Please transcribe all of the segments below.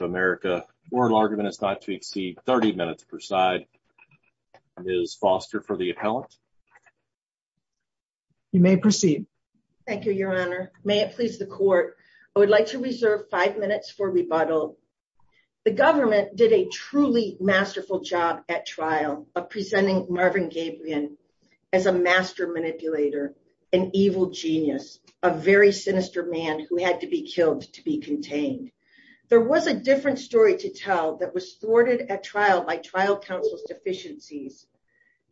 of America or larger than it's not to exceed 30 minutes per side, Ms. Foster for the appellant. You may proceed. Thank you, Your Honor. May it please the court, I would like to reserve five minutes for rebuttal. The government did a truly masterful job at trial of presenting Marvin as a master manipulator, an evil genius, a very sinister man who had to be killed to be contained. There was a different story to tell that was thwarted at trial by trial counsel's deficiencies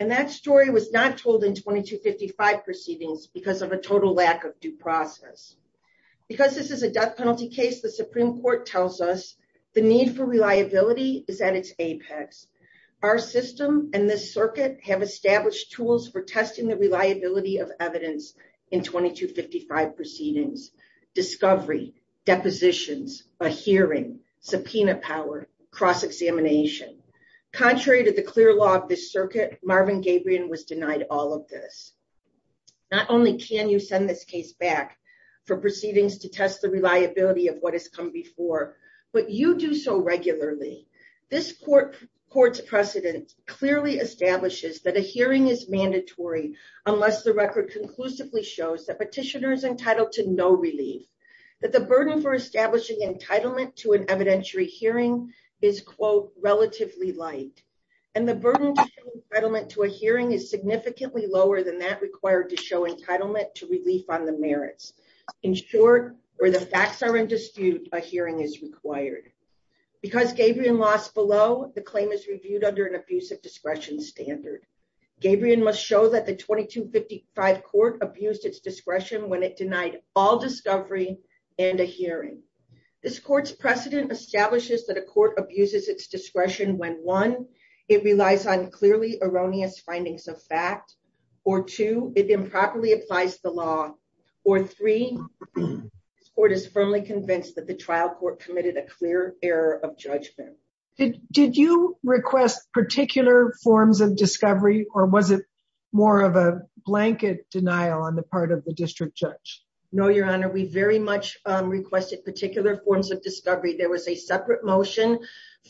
and that story was not told in 2255 proceedings because of a total lack of due process. Because this is a death penalty case, the Supreme Court tells us the need for reliability is at its tools for testing the reliability of evidence in 2255 proceedings, discovery, depositions, a hearing, subpoena power, cross-examination. Contrary to the clear law of this circuit, Marvin Gabrion was denied all of this. Not only can you send this case back for proceedings to test the reliability of what has come before, but you do so regularly. This court's precedent clearly establishes that a hearing is mandatory unless the record conclusively shows that petitioner is entitled to no relief, that the burden for establishing entitlement to an evidentiary hearing is, quote, relatively light, and the burden to show entitlement to a hearing is significantly lower than that required to show entitlement to relief on the merits. In short, where the facts are in dispute, a hearing is required. Because Gabrion lost below, the claim is reviewed under an abusive discretion standard. Gabrion must show that the 2255 court abused its discretion when it denied all discovery and a hearing. This court's precedent establishes that a court abuses its discretion when, one, it relies on clearly erroneous findings of fact, or two, it improperly applies the law, or three, this court is firmly convinced that the trial court committed a clear error of judgment. Did you request particular forms of discovery, or was it more of a blanket denial on the part of the district judge? No, Your Honor, we very much requested particular forms of discovery. There was a separate motion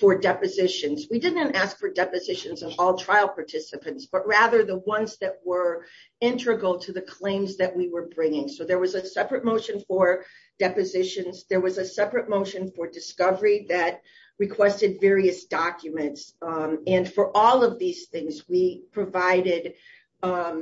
for depositions. We didn't ask for depositions of all trial participants, but rather the ones that were integral to the claims that we were bringing. So there was a separate motion for depositions. There was a separate motion for discovery that requested various documents. And for all of these things, we provided a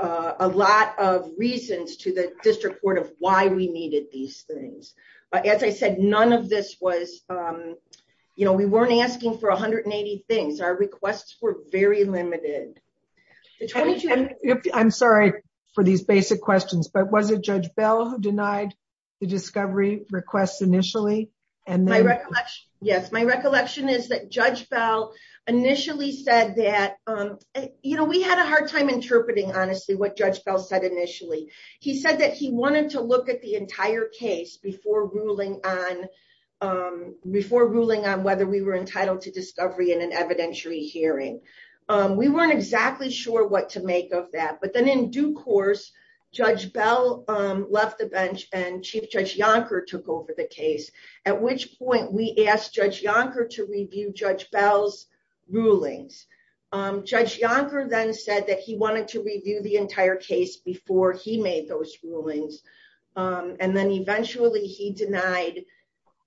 lot of reasons to the district court of why we needed these things. As I said, none of this was, you know, we weren't asking for 180 things. Our requests were very limited. I'm sorry for these basic questions, but was it Judge Bell who denied the discovery requests initially? Yes, my recollection is that Judge Bell initially said that, you know, we had a hard time interpreting honestly what Judge Bell said initially. He said that he wanted to look at the entire case before ruling on whether we were entitled to discovery in an evidentiary hearing. We weren't exactly sure what to make of that, but then in due course, Judge Bell left the bench and Chief Judge Yonker took over the case, at which point we asked Judge Yonker to review Judge Bell's rulings. Judge Yonker then said that he wanted to review the entire case before he made those rulings. And then eventually he denied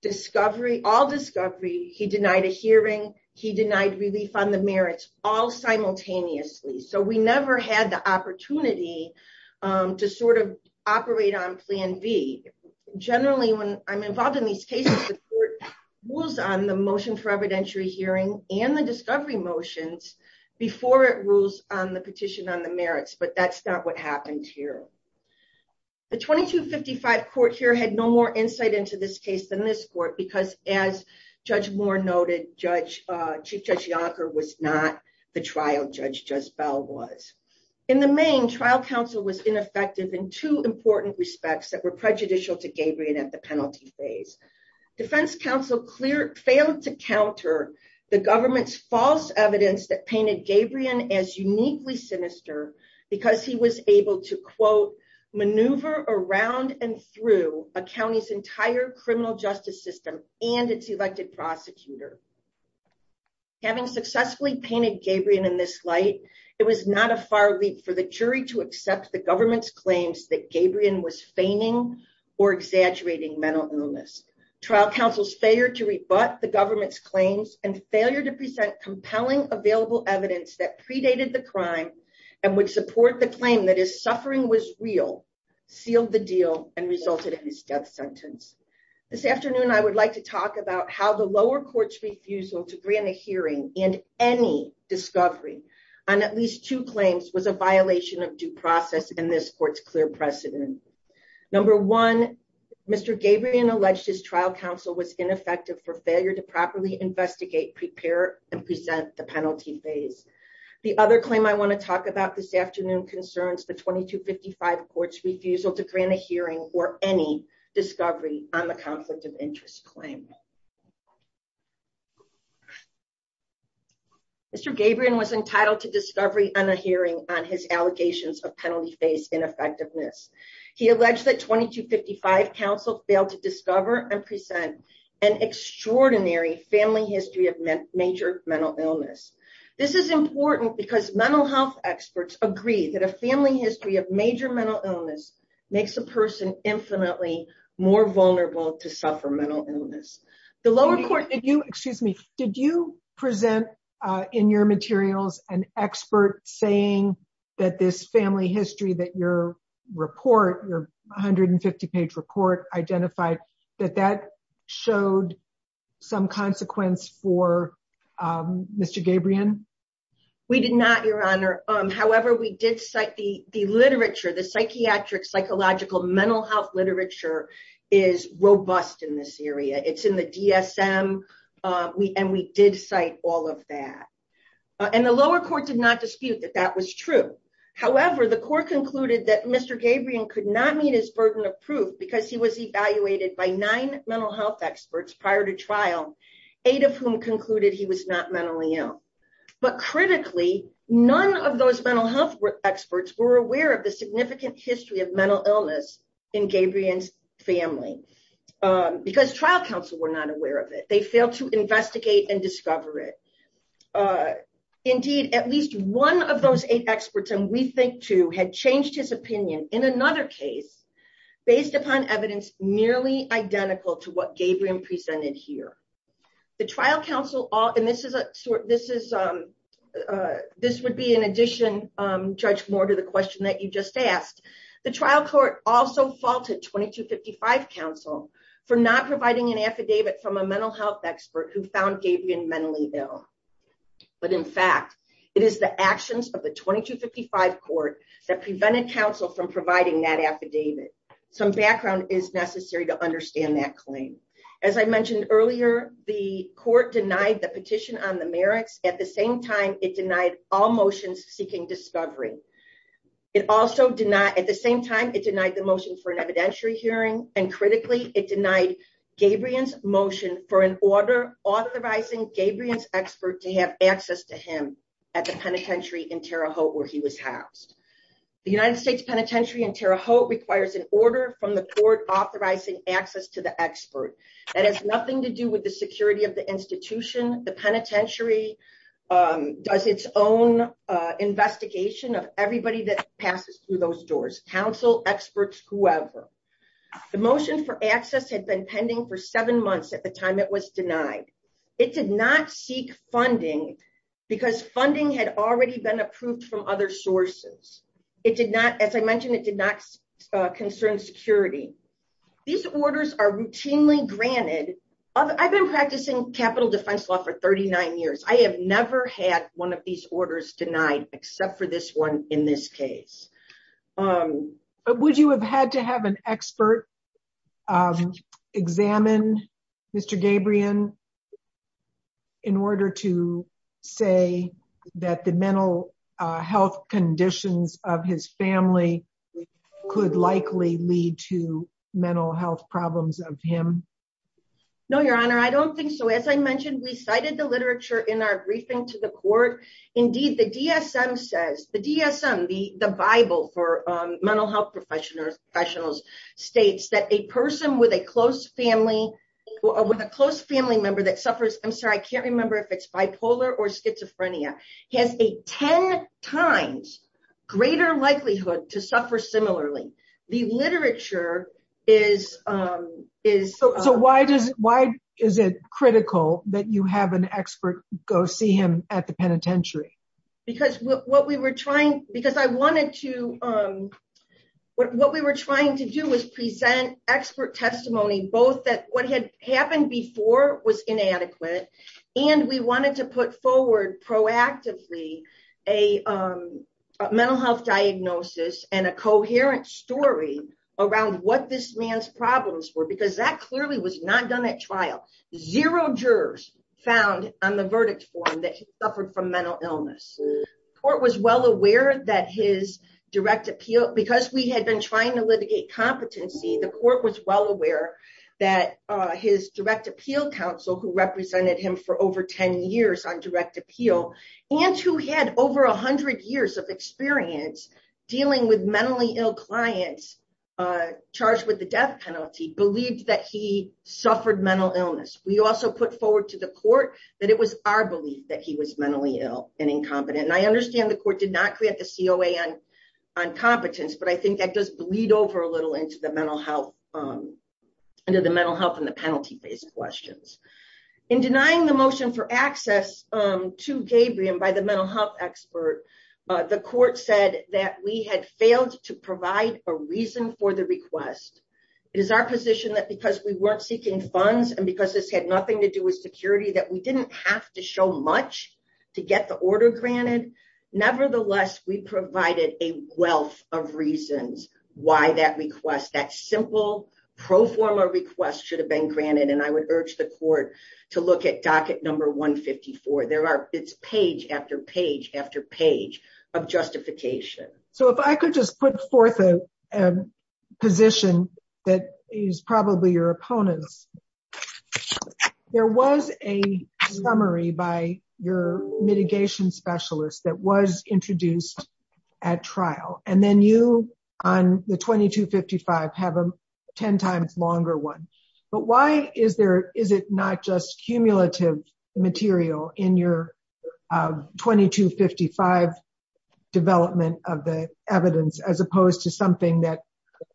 discovery, all discovery. He denied a hearing. He denied relief on the merits, all simultaneously. So we never had the opportunity to sort of operate on plan B. Generally, when I'm involved in these cases, the court rules on the motion for evidentiary hearing and the discovery motions before it rules on the petition on the merits, but that's not what happened here. The 2255 court here had no more insight into this case than this court because, as Judge Moore noted, Chief Judge Yonker was not the trial Judge Bell was. In the main, trial counsel was ineffective in two important respects that were prejudicial to Gabrion at the penalty phase. Defense counsel failed to counter the government's false evidence that painted Gabrion as uniquely sinister because he was able to, quote, maneuver around and through a county's entire criminal justice system and its elected prosecutor. Having successfully painted Gabrion in this light, it was not a far leap for the jury to accept the government's claims that Gabrion was feigning or exaggerating mental illness. Trial counsel's failure to rebut the government's claims and failure to present available evidence that predated the crime and would support the claim that his suffering was real sealed the deal and resulted in his death sentence. This afternoon, I would like to talk about how the lower court's refusal to grant a hearing and any discovery on at least two claims was a violation of due process in this court's clear precedent. Number one, Mr. Gabrion alleged his trial counsel was ineffective for failure to properly investigate, prepare, and present the penalty phase. The other claim I want to talk about this afternoon concerns the 2255 court's refusal to grant a hearing or any discovery on the conflict of interest claim. Mr. Gabrion was entitled to discovery on a hearing on his allegations of penalty phase ineffectiveness. He alleged that 2255 counsel failed to discover and present an extraordinary family history of major mental illness. This is important because mental health experts agree that a family history of major mental illness makes a person infinitely more vulnerable to suffer mental illness. The lower court did you, excuse me, did you present in your materials an family history that your report, your 150-page report, identified that that showed some consequence for Mr. Gabrion? We did not, Your Honor. However, we did cite the literature, the psychiatric, psychological, mental health literature is robust in this area. It's in the DSM, and we did cite all of that. And the lower court did not dispute that that was true. However, the court concluded that Mr. Gabrion could not meet his burden of proof because he was evaluated by nine mental health experts prior to trial, eight of whom concluded he was not mentally ill. But critically, none of those mental health experts were aware of the significant history of mental illness in Gabrion's family because trial counsel were not aware of it. They failed to investigate and discover it. Indeed, at least one of those eight experts, and we think two, had changed his opinion in another case, based upon evidence nearly identical to what Gabrion presented here. The trial counsel, and this would be in addition, Judge Moore, to the question that you just asked, the trial court also faulted 2255 counsel for not providing an affidavit from a mental health expert who found Gabrion mentally ill. But in fact, it is the actions of the 2255 court that prevented counsel from providing that affidavit. Some background is necessary to understand that claim. As I mentioned earlier, the court denied the petition on the merits. At the same time, it denied all motions seeking discovery. It also did not, at the same time, it denied the motion for an evidentiary hearing, and critically, it denied Gabrion's motion for an order authorizing Gabrion's expert to have access to him at the penitentiary in Terre Haute where he was housed. The United States Penitentiary in Terre Haute requires an order from the court authorizing access to the expert. That has nothing to do with the security of the institution. The penitentiary does its own investigation of passes through those doors, counsel, experts, whoever. The motion for access had been pending for seven months at the time it was denied. It did not seek funding because funding had already been approved from other sources. It did not, as I mentioned, it did not concern security. These orders are routinely granted. I've been practicing capital defense law for 39 years. I have never had one of these orders denied except for this one in this case. Would you have had to have an expert examine Mr. Gabrion in order to say that the mental health conditions of his family could likely lead to mental health problems of him? No, Your Honor. I don't think so. As I mentioned, we cited the literature in our briefing to the court. Indeed, the DSM says, the DSM, the Bible for mental health professionals, states that a person with a close family, with a close family member that suffers, I'm sorry, I can't remember if it's bipolar or schizophrenia, has a 10 times greater likelihood to suffer similarly. The Why is it critical that you have an expert go see him at the penitentiary? Because what we were trying to do was present expert testimony, both that what had happened before was inadequate, and we wanted to put forward proactively a mental health diagnosis and a coherent story around what this man's problems were, because that clearly was not done at trial. Zero jurors found on the verdict form that he suffered from mental illness. Court was well aware that his direct appeal, because we had been trying to litigate competency, the court was well aware that his direct appeal counsel, who represented him for over 10 years on direct appeal, and who had over 100 years of experience dealing with mentally ill clients charged with the death penalty, believed that he suffered mental illness. We also put forward to the court that it was our belief that he was mentally ill and incompetent. I understand the court did not create the COA on competence, but I think that does bleed over a little into the penalty phase questions. In denying the motion for access to Gabriel by the mental health expert, the court said that we had failed to provide a reason for the request. It is our position that because we weren't seeking funds and because this had nothing to do with security, that we didn't have to show much to get the order granted. Nevertheless, we provided a wealth of reasons why that request, that simple pro forma request, should have been granted. I would urge the court to look at docket number 154. It's page after page after page of justification. So if I could just put forth a position that is probably your opponent's. There was a summary by your mitigation specialist that was introduced at trial, and then you on the 2255 have a 10 times longer one. But why is it not just cumulative material in your 2255 development of the evidence as opposed to something that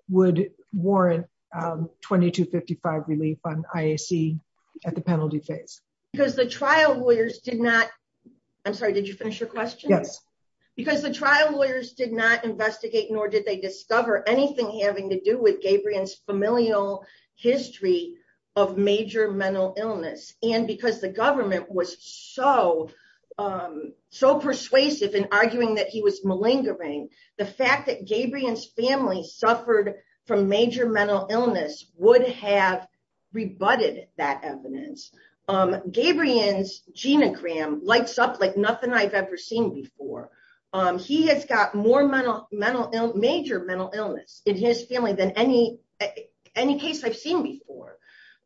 would warrant 2255 relief on IAC at the penalty phase? Because the trial lawyers did not... I'm sorry, did you finish your question? Because the trial lawyers did not investigate nor did they discover anything having to do with Gabriel's familial history of major mental illness. And because the government was so persuasive in arguing that he was malingering, the fact that Gabriel's family suffered from major mental illness would have rebutted that evidence. Gabriel's family has more major mental illness in his family than any case I've seen before.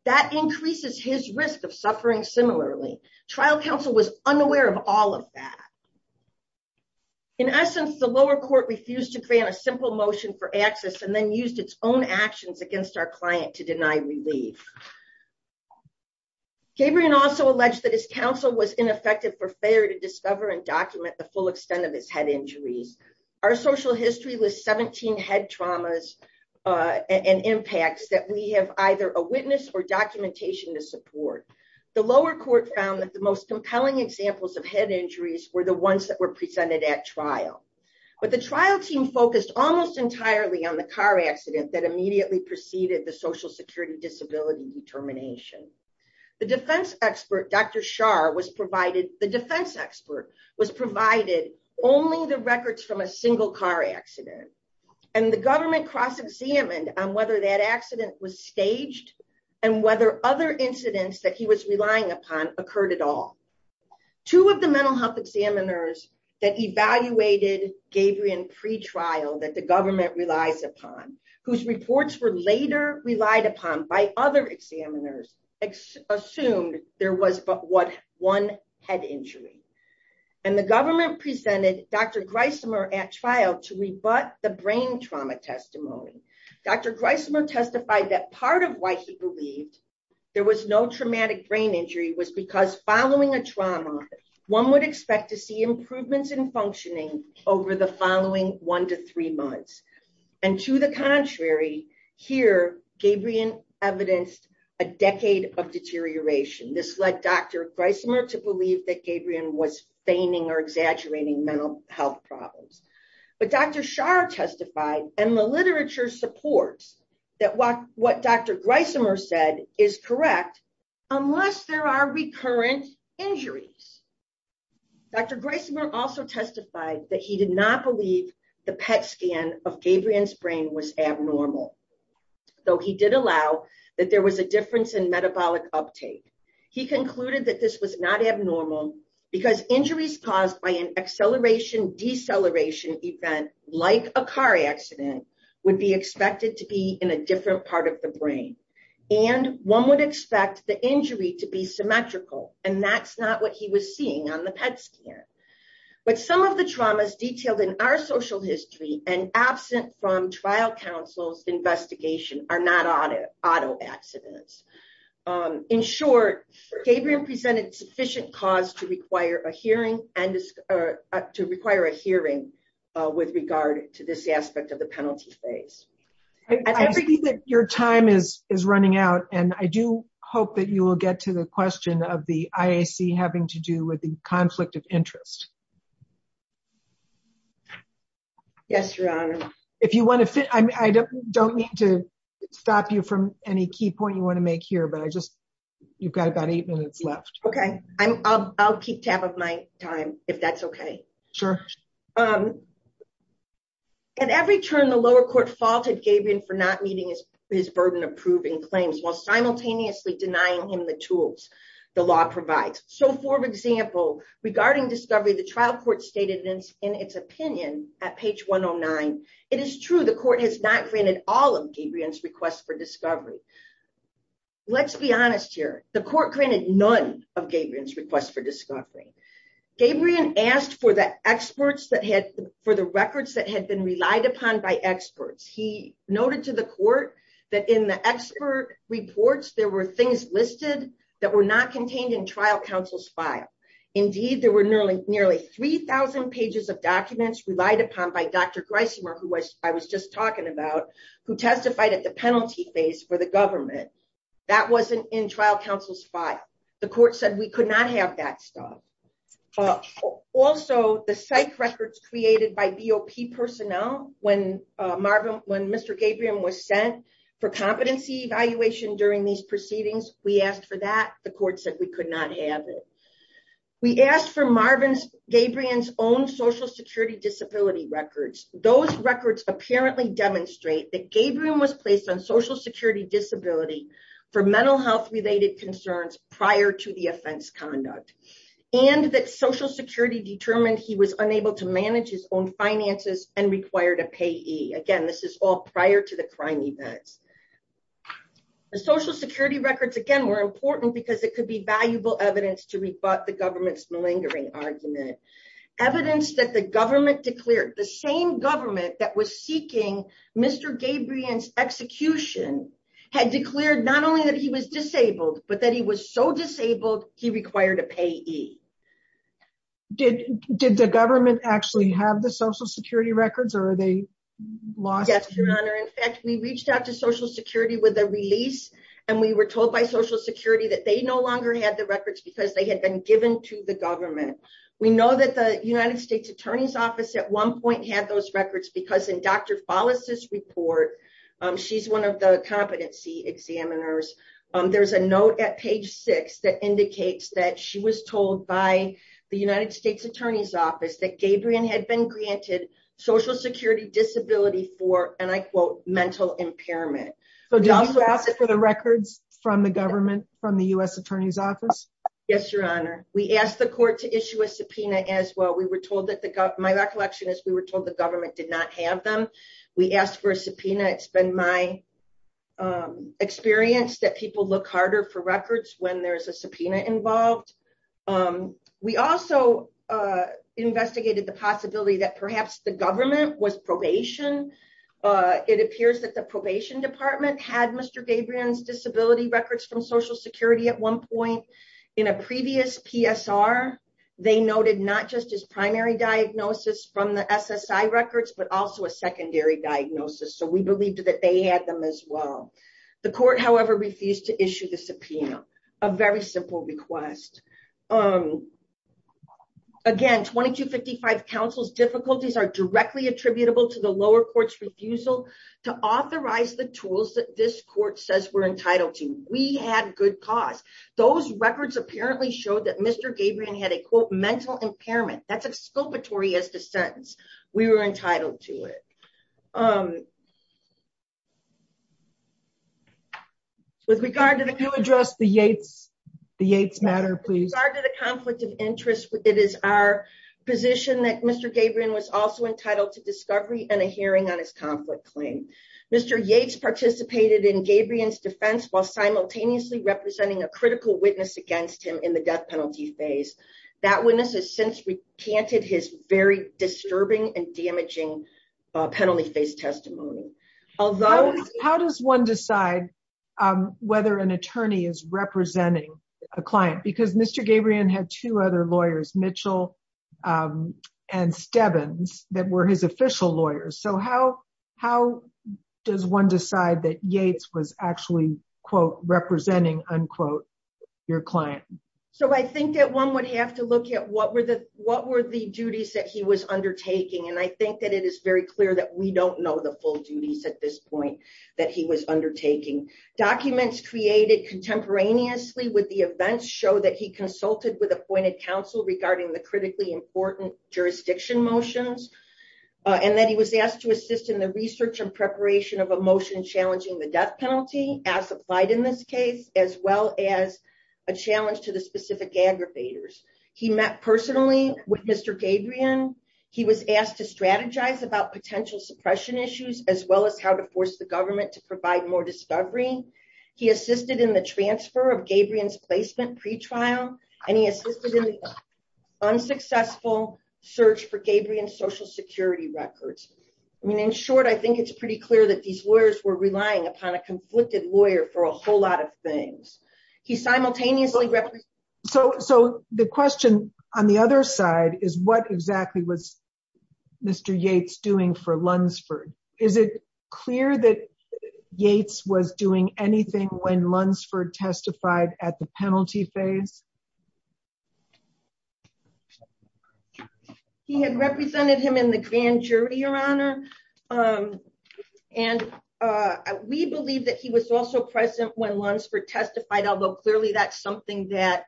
That increases his risk of suffering similarly. Trial counsel was unaware of all of that. In essence, the lower court refused to grant a simple motion for access and then used its own actions against our client to deny relief. Gabriel also alleged that his counsel was ineffective for failure to discover and document the full extent of his head injuries. Our social history lists 17 head traumas and impacts that we have either a witness or documentation to support. The lower court found that the most compelling examples of head injuries were the ones that were presented at trial. But the trial team focused almost entirely on the car accident that immediately preceded the social security disability determination. The defense expert, Dr. Shah was provided, the defense expert was provided only the records from a single car accident. And the government cross-examined on whether that accident was staged and whether other incidents that he was relying upon occurred at all. Two of the mental health examiners that evaluated Gabriel in pretrial that the government relies upon, whose reports were later relied upon by other examiners, assumed there was but one head injury. And the government presented Dr. Greismer at trial to rebut the brain trauma testimony. Dr. Greismer testified that part of why he believed there was no traumatic brain injury was because following a trauma, one would expect to see improvements in functioning over the following one to three months. And to the contrary here, Gabriel evidenced a decade of deterioration. This led Dr. Greismer to believe that Gabriel was feigning or exaggerating mental health problems. But Dr. Shah testified and the literature supports that what Dr. Greismer said is correct, unless there are recurrent injuries. Dr. Greismer also testified that he did not believe the PET scan of Gabriel's brain was abnormal, though he did allow that there was a difference in metabolic uptake. He concluded that this was not abnormal because injuries caused by an acceleration deceleration event, like a car accident, would be expected to be in a different part of the brain. And one would expect the injury to be symmetrical, and that's not what he was seeing on the PET scan. But some of the traumas detailed in our social history and absent from trial counsel's investigation are not auto accidents. In short, Gabriel presented sufficient cause to require a hearing with regard to this aspect of the your time is running out. And I do hope that you will get to the question of the IAC having to do with the conflict of interest. Yes, your honor. If you want to fit, I don't need to stop you from any key point you want to make here. But I just, you've got about eight minutes left. Okay, I'll keep tab of my time, if that's okay. Sure. And every turn the lower court faulted Gabriel for not meeting his burden of proving claims while simultaneously denying him the tools the law provides. So for example, regarding discovery, the trial court stated in its opinion at page 109, it is true the court has not granted all of Gabriel's requests for discovery. Let's be honest here. The court granted none of Gabriel's requests for discovery. Gabriel asked for the experts that had for the records that had been relied upon by experts. He noted to the court that in the expert reports, there were things listed that were not contained in trial counsel's file. Indeed, there were nearly nearly 3000 pages of documents relied upon by Dr. Greisenberg, who was I was just talking about, who testified at the penalty phase for the government. That wasn't in trial counsel's file. The court said we could not have that stuff. Also, the psych records created by BOP personnel when Mr. Gabriel was sent for competency evaluation during these proceedings, we asked for that the court said we could not have it. We asked for Marvin's Gabriel's own social security disability records. Those records apparently demonstrate that Gabriel was placed on social security disability for mental health concerns prior to the offense conduct, and that social security determined he was unable to manage his own finances and required a payee. Again, this is all prior to the crime events. Social security records, again, were important because it could be valuable evidence to rebut the government's malingering argument. Evidence that the government declared the same government that was seeking Mr. Gabriel's execution had declared not only that he was disabled, but that he was so disabled, he required a payee. Did the government actually have the social security records or are they lost? Yes, Your Honor. In fact, we reached out to social security with a release. And we were told by social security that they no longer had the records because they had been given to the government. We know that the United States Attorney's Office at one point had those records because in Dr. Follis's report, she's one of the competency examiners. There's a note at page six that indicates that she was told by the United States Attorney's Office that Gabriel had been granted social security disability for, and I quote, mental impairment. So did you ask for the records from the government, from the U.S. Attorney's Office? Yes, Your Honor. We asked the court to issue a subpoena as well. We were told my recollection is we were told the government did not have them. We asked for a subpoena. It's been my experience that people look harder for records when there's a subpoena involved. We also investigated the possibility that perhaps the government was probation. It appears that the probation department had Mr. Gabriel's disability records from social security at one point. In a previous PSR, they noted not just his primary diagnosis from the SSI records, but also a secondary diagnosis. So we believed that they had them as well. The court, however, refused to issue the subpoena, a very simple request. Again, 2255 counsel's difficulties are directly attributable to the lower court's refusal to authorize the tools that this court says we're entitled to. We had good cause. Those records apparently showed that Mr. Gabriel had a quote, mental impairment. That's exculpatory as the sentence. We were entitled to it. With regard to the conflict of interest, it is our position that Mr. Gabriel was also entitled to discovery and a hearing on his conflict claim. Mr. Yates participated in Gabriel's defense while simultaneously representing a critical witness against him in the death penalty phase. That witness has since recanted his very disturbing and damaging penalty phase testimony. Although- How does one decide whether an attorney is representing a client? Because Mr. Gabriel had two other lawyers, Mitchell and Stebbins, that were his official lawyers. So how does one decide that Yates was actually, quote, representing, unquote, your client? So I think that one would have to look at what were the duties that he was undertaking. And I think that it is very clear that we don't know the full duties at this point that he was undertaking. Documents created contemporaneously with the events show that he consulted with appointed counsel regarding the critically important jurisdiction motions, and that he was asked to assist in the research and preparation of a motion challenging the death penalty, as applied in this case, as well as a challenge to the specific aggravators. He met personally with Mr. Gabriel. He was asked to strategize about potential suppression issues, as well as how to force the government to provide more discovery. He assisted in the transfer of Gabriel's placement pretrial, and he assisted in the unsuccessful search for Gabriel's social security records. I mean, in short, I think it's pretty clear that these lawyers were relying upon a conflicted lawyer for a whole lot of things. He simultaneously- So the question on the other side is, what exactly was Mr. Yates doing for Lunsford? Is it clear that Yates was doing anything when Lunsford testified at the penalty phase? He had represented him in the grand jury, Your Honor. And we believe that he was also present when Lunsford testified, although clearly that's something that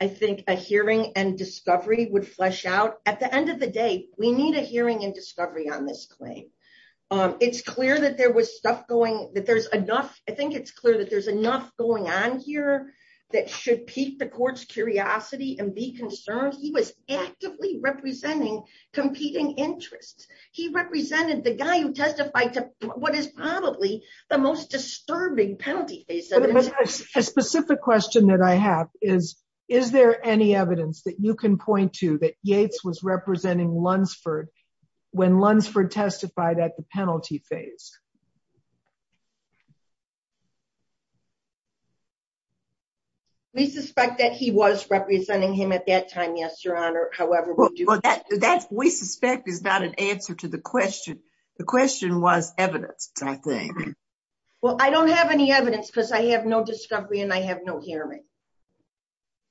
I think a hearing and discovery would flesh out. At the end of the day, we need a hearing and discovery on this claim. It's clear that there was stuff going- that there's enough- I think it's clear that there's enough going on here that should pique the court's curiosity and be concerned. He was actively representing competing interests. He represented the guy who testified to what is probably the most disturbing penalty case- A specific question that I have is, is there any evidence that you can point to that Yates was representing Lunsford when Lunsford testified at the penalty phase? We suspect that he was representing him at that time, yes, Your Honor. However, we suspect is not an answer to the question. The question was evidence, I think. Well, I don't have any evidence because I have no discovery and I have no hearing.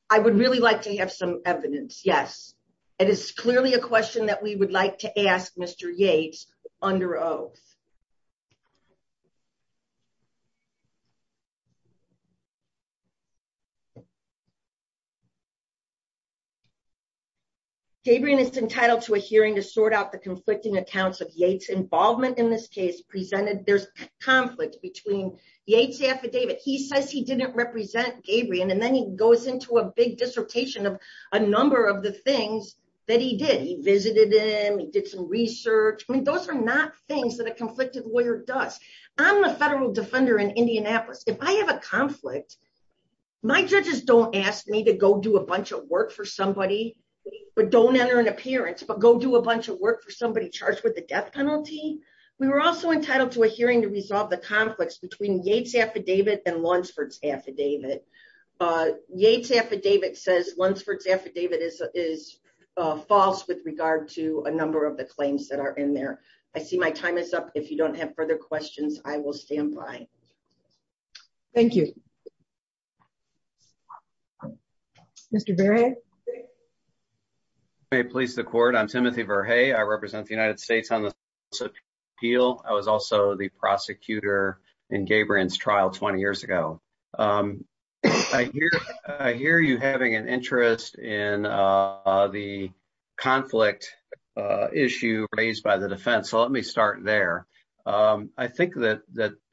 I would really like to have some evidence, yes. It is clearly a question that we would like to ask Mr. Yates under oath. Gabrion is entitled to a hearing to sort out the conflicting accounts of Yates' involvement in this case presented. There's conflict between the Yates affidavit. He says he didn't represent Gabrion and then he goes into a big dissertation of a number of the things that he did. He visited him. He did some research. I mean, those are not things that a conflicted lawyer does. I'm a federal defender in Indianapolis. If I have a conflict, my judges don't ask me to go do a bunch of work for somebody, but don't enter an appearance, but go do a bunch of work for the death penalty. We were also entitled to a hearing to resolve the conflicts between Yates' affidavit and Lunsford's affidavit. Yates' affidavit says Lunsford's affidavit is false with regard to a number of the claims that are in there. I see my time is up. If you don't have further questions, I will stand by. Thank you. Mr. Verhey. May it please the court. I'm Timothy Verhey. I represent the United States on the Appeal. I was also the prosecutor in Gabrion's trial 20 years ago. I hear you having an interest in the conflict issue raised by the defense. Let me start there. I think that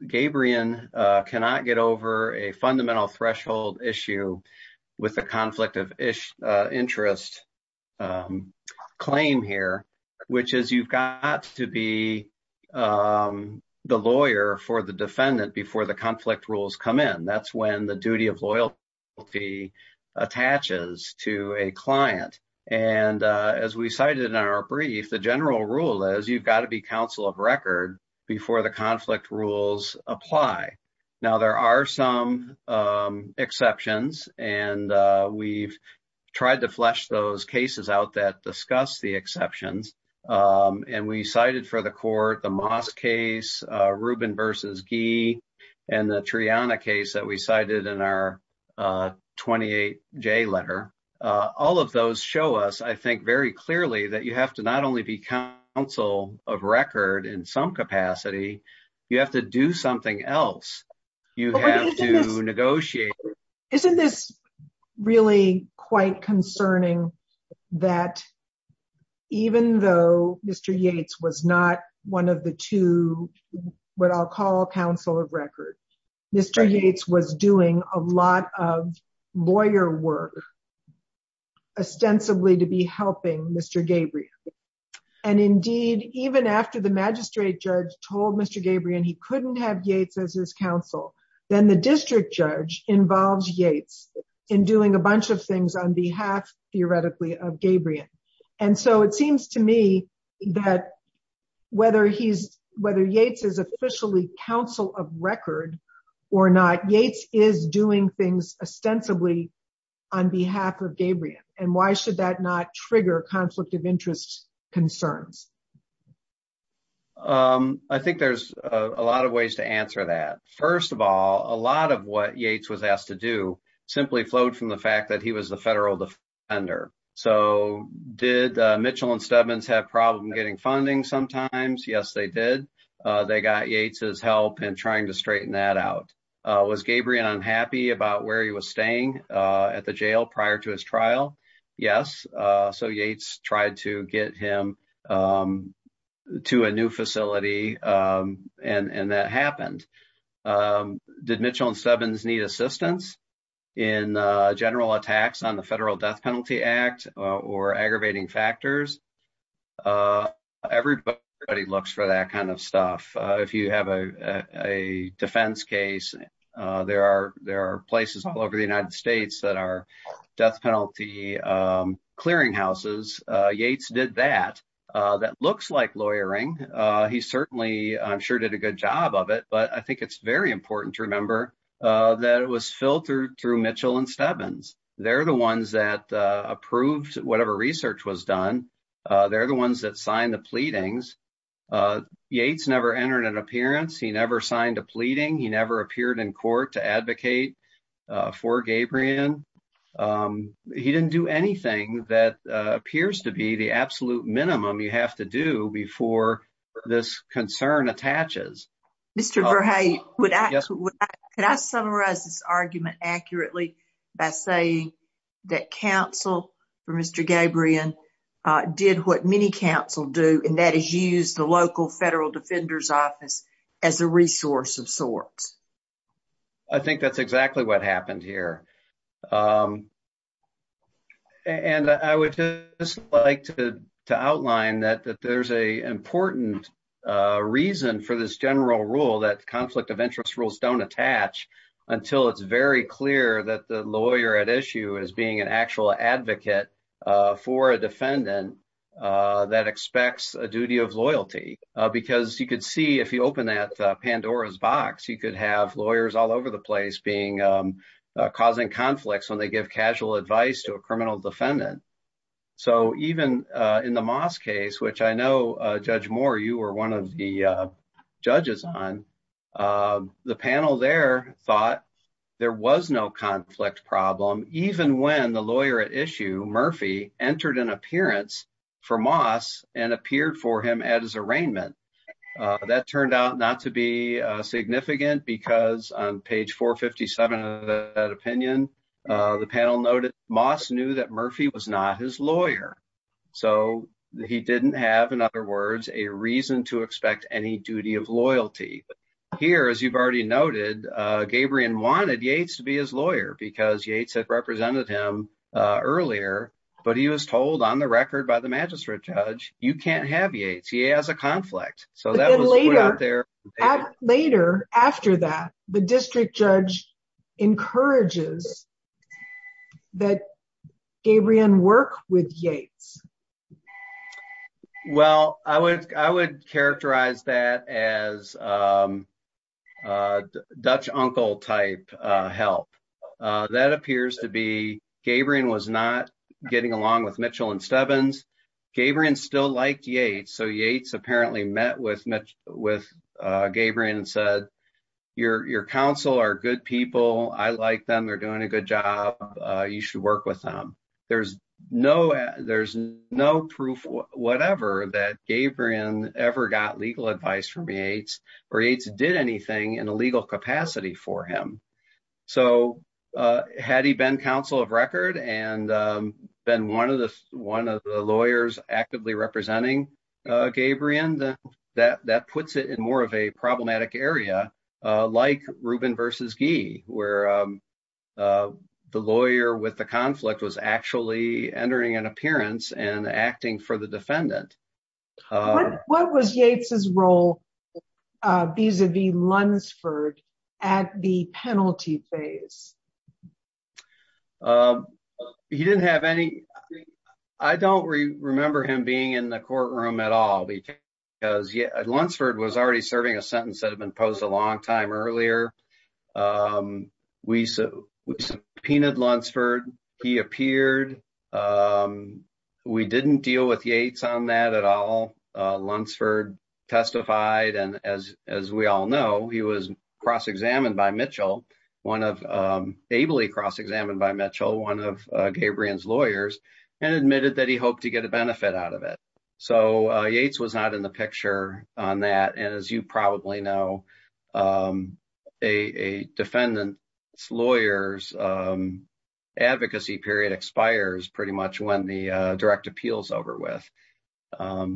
Gabrion cannot get over a fundamental threshold issue with the conflict of interest claim here, which is you've got to be the lawyer for the defendant before the conflict rules come in. That's when the duty of loyalty attaches to a client. As we cited in our brief, the general rule is you've got to be counsel of record before the conflict rules apply. There are some exceptions, and we've tried to flesh those cases out that discuss the exceptions. We cited for the court the Moss case, Rubin v. Gee, and the Triana case that we cited in our 28J letter. All of those show us, I think very clearly, that you have to not only be counsel of record in some capacity, you have to do something else. You have to negotiate. Isn't this really quite concerning that even though Mr. Yates was not one of the two, what I'll call counsel of record, Mr. Yates was doing a lot of lawyer work ostensibly to be helping Mr. Gabrion. Indeed, even after the magistrate judge told Mr. Gabrion he couldn't have Yates as his counsel, then the district judge involves Yates in doing a bunch of things on behalf, theoretically, of Gabrion. It seems to me that whether Yates is officially counsel of record or not, Yates is doing things ostensibly on behalf of Gabrion. Why should that not trigger conflict of interest concerns? I think there's a lot of ways to answer that. First of all, a lot of what Yates was asked to do simply flowed from the fact that he was the federal defender. So, did Mitchell and Stubman have problems getting funding sometimes? Yes, they did. They got Yates' help in trying to straighten that out. Was Gabrion unhappy about where he was staying at the jail prior to his trial? Yes. So, Yates tried to get him to a new facility and that happened. Did Mitchell and Stubman need assistance in general attacks on the Federal Death Penalty Act or aggravating factors? Everybody looks for that kind of stuff. If you have a defense case, there are places all over the United States that are death penalty clearinghouses. Yates did that. That looks like lawyering. He certainly, I'm sure, did a good job of it. But I think it's very important to remember that it was filtered through Mitchell and Stubman. They're the ones that approved whatever research was done. They're the ones that signed the pleadings. Yates never entered an appearance. He never signed a pleading. He never appeared in court to advocate for Gabrion. He didn't do anything that appears to be the absolute minimum you have to do before this concern attaches. Mr. Verhey, could I summarize this argument accurately by saying that counsel for Mr. Gabrion did what many counsel do and that is to defend the defendant. I think that's exactly what happened here. And I would just like to outline that there's an important reason for this general rule that conflict of interest rules don't attach until it's very clear that the lawyer at issue is being an actual advocate for a defendant that expects a duty of loyalty. Because you could see if you could have lawyers all over the place causing conflicts when they give casual advice to a criminal defendant. So even in the Moss case, which I know, Judge Moore, you were one of the judges on, the panel there thought there was no conflict problem even when the lawyer at issue, Murphy, entered an appearance for Moss and appeared for him at his arraignment. That turned out not to be significant because on page 457 of that opinion, the panel noted Moss knew that Murphy was not his lawyer. So he didn't have, in other words, a reason to expect any duty of loyalty. Here, as you've already noted, Gabrion wanted Yates to be his lawyer because Yates had represented him earlier, but he was told on the record by the magistrate judge, you can't have Yates. He has a conflict. So that was put out there. Later after that, the district judge encourages that Gabrion work with Yates. Well, I would characterize that as a Dutch uncle type help. That appears to be Gabrion was not getting along with Mitchell and Stebbins. Gabrion still liked Yates. So Yates apparently met with Gabrion and said, your counsel are good people. I like them. They're doing a good job. You should work with them. There's no proof, whatever, that Gabrion ever got legal advice from Yates or Yates did anything in a legal capacity for him. So had he been counsel of record and been one of the lawyers actively representing Gabrion, that puts it in more of a problematic area, like Rubin versus Gee, where the lawyer with the conflict was actually entering an appearance and acting for the defendant. What was Yates' role vis-a-vis Lunsford at the penalty phase? I don't remember him being in the courtroom at all because Lunsford was already serving a sentence that had been posed a long time earlier. We subpoenaed Lunsford. He appeared. We didn't deal with Yates on that at all. Lunsford testified. And as we all know, he was cross-examined by Mitchell, ably cross-examined by Mitchell, one of Gabrion's lawyers, and admitted that he hoped to get a benefit out of it. So Yates was not in the picture on that. And as you probably know, a defendant's lawyer's advocacy period expires pretty much when the direct appeal is over with.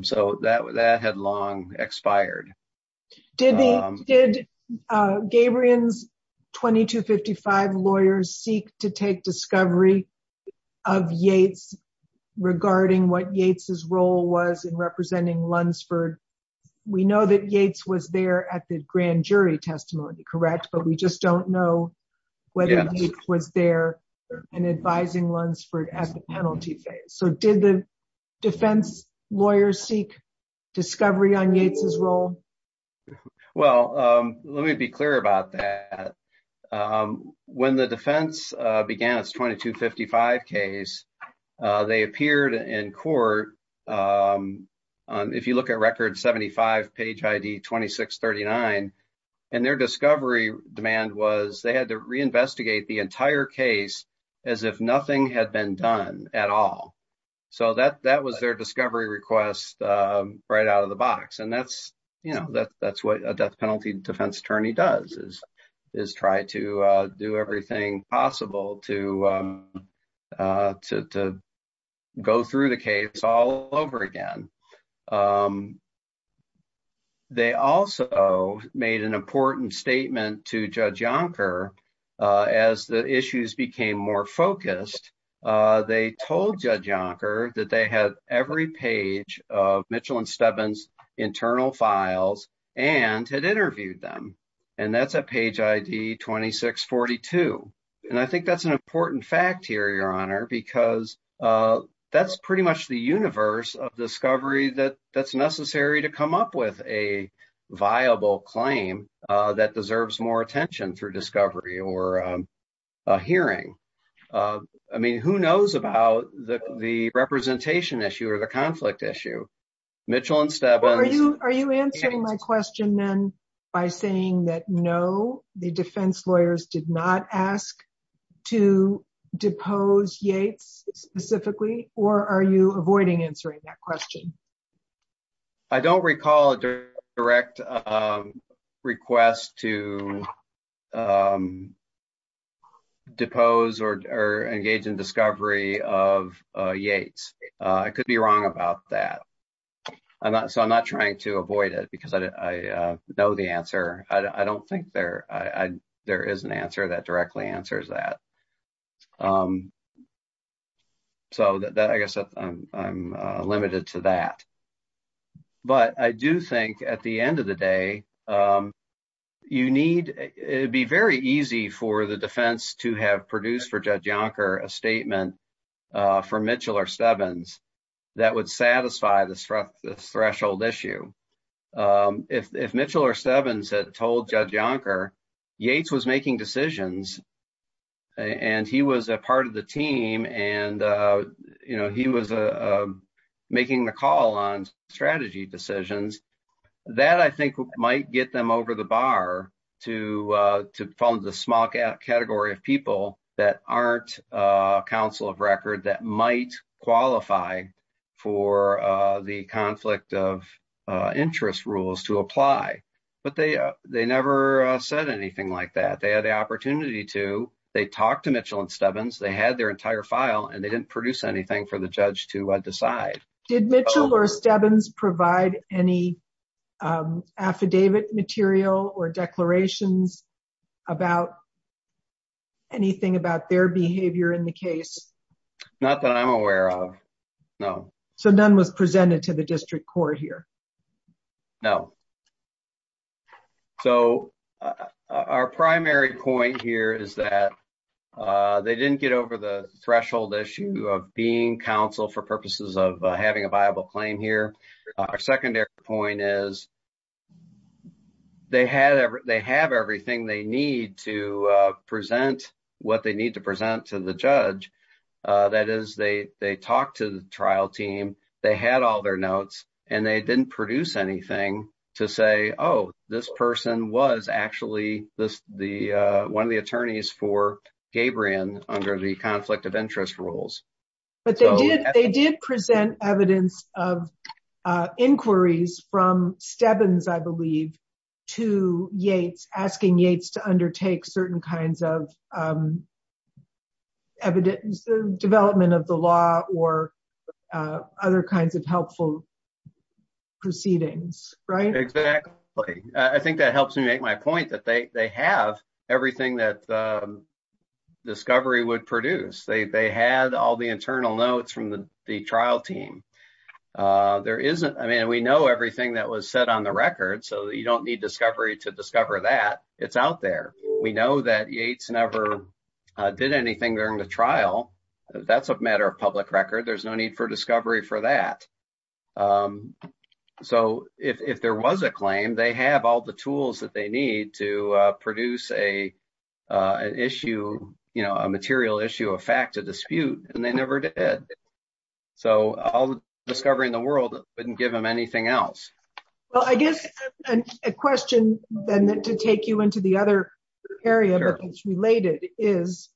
So that had long expired. Did Gabrion's 2255 lawyers seek to take discovery of Yates regarding what Yates' role was in representing Lunsford? We know that Yates was there at the jury testimony, correct? But we just don't know whether Yates was there in advising Lunsford at the penalty phase. So did the defense lawyers seek discovery on Yates' role? Well, let me be clear about that. When the defense began its 2255 case, they appeared in court, if you look at record 75 page ID 2639, and their discovery demand was they had to reinvestigate the entire case as if nothing had been done at all. So that was their discovery request right out of the box. And that's what a death penalty defense attorney does, is try to do everything possible to go through the case all over again. They also made an important statement to Judge Yonker. As the issues became more focused, they told Judge Yonker that they had every page of Mitchell and Stebbins' internal files and had interviewed them. And that's at page ID 2642. And I think that's an important fact here, Your Honor, because that's pretty much the universe of discovery that's necessary to come up with a viable claim that deserves more attention through discovery or hearing. I mean, who knows about the representation issue or the conflict issue? Mitchell and Stebbins... Are you answering my question then by saying that no, the defense lawyers did not ask to depose Yates specifically, or are you avoiding answering that question? I don't recall a direct request to avoid it because I know the answer. I don't think there is an answer that directly answers that. So I guess I'm limited to that. But I do think at the end of the day, you need... It'd be very easy for the defense to have produced for Judge Yonker a statement from Mitchell or Stebbins that would satisfy this threshold issue. If Mitchell or Stebbins had told Judge Yonker Yates was making decisions, and he was a part of the team, and he was making the call on strategy decisions, that I think might get them over the bar to fall into the small category of people that aren't counsel of record that might qualify for the conflict of interest rules to apply. But they never said anything like that. They had the opportunity to. They talked to Mitchell and Stebbins. They had their entire file, and they didn't produce anything for the judge to decide. Did Mitchell or Stebbins provide any affidavit material or declarations about anything about their behavior in the case? Not that I'm aware of, no. So none was presented to the district court here? No. So our primary point here is that they didn't get over the threshold issue of being counsel for purposes of having a viable claim here. Our secondary point is they have everything they need to present what they need to present to the judge. That is, they talked to the trial team, they had all their notes, and they didn't produce anything to say, oh, this person was actually one of the attorneys for Gabrion under the conflict of interest rules. But they did present evidence of inquiries from Stebbins, I believe, to Yates, asking Yates to undertake certain kinds of evidence, development of the law or other kinds of helpful proceedings, right? Exactly. I think that helps me make my point that they have everything that they need to produce. They had all the internal notes from the trial team. There isn't, I mean, we know everything that was said on the record, so you don't need discovery to discover that. It's out there. We know that Yates never did anything during the trial. That's a matter of public record. There's no need for discovery for that. So if there was a claim, they have all the tools that they need to produce an issue, you know, a material issue, a fact, a dispute, and they never did. So all the discovery in the world wouldn't give them anything else. Well, I guess a question then to take you into the other area that's related is,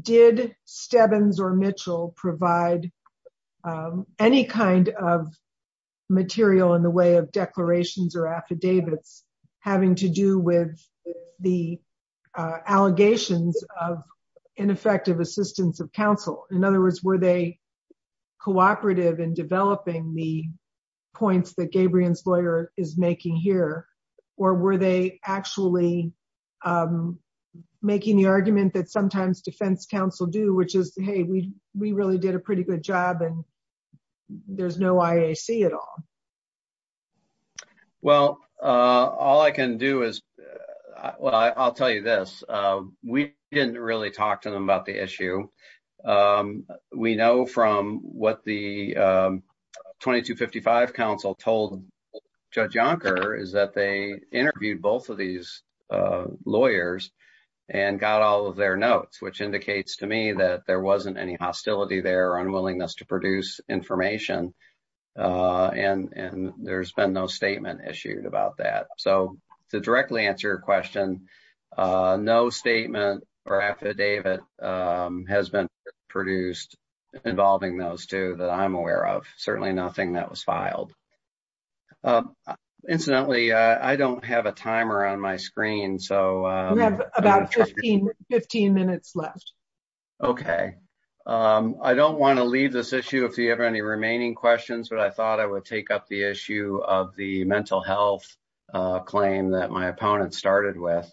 did Stebbins or Mitchell provide any kind of material in the way of declarations or affidavits having to do with the allegations of ineffective assistance of counsel? In other words, were they cooperative in developing the points that Gabrion's lawyer is making here, or were they actually making the argument that sometimes defense counsel do, which is, hey, we really did a pretty good job, and there's no IAC at all? Well, all I can do is, well, I'll tell you this. We didn't really talk to them about the issue. We know from what the 2255 counsel told Judge Yonker is that they interviewed both of these lawyers and got all of their notes, which indicates to me that there wasn't any hostility there or unwillingness to produce information, and there's been no statement issued about that. So to directly answer your question, no statement or affidavit has been produced involving those two that I'm aware of. Certainly nothing that was filed. Incidentally, I don't have a timer on my screen. We have about 15 minutes left. Okay. I don't want to leave this issue if you have any remaining questions, but I thought I would take up the issue of the mental health claim that my opponent started with.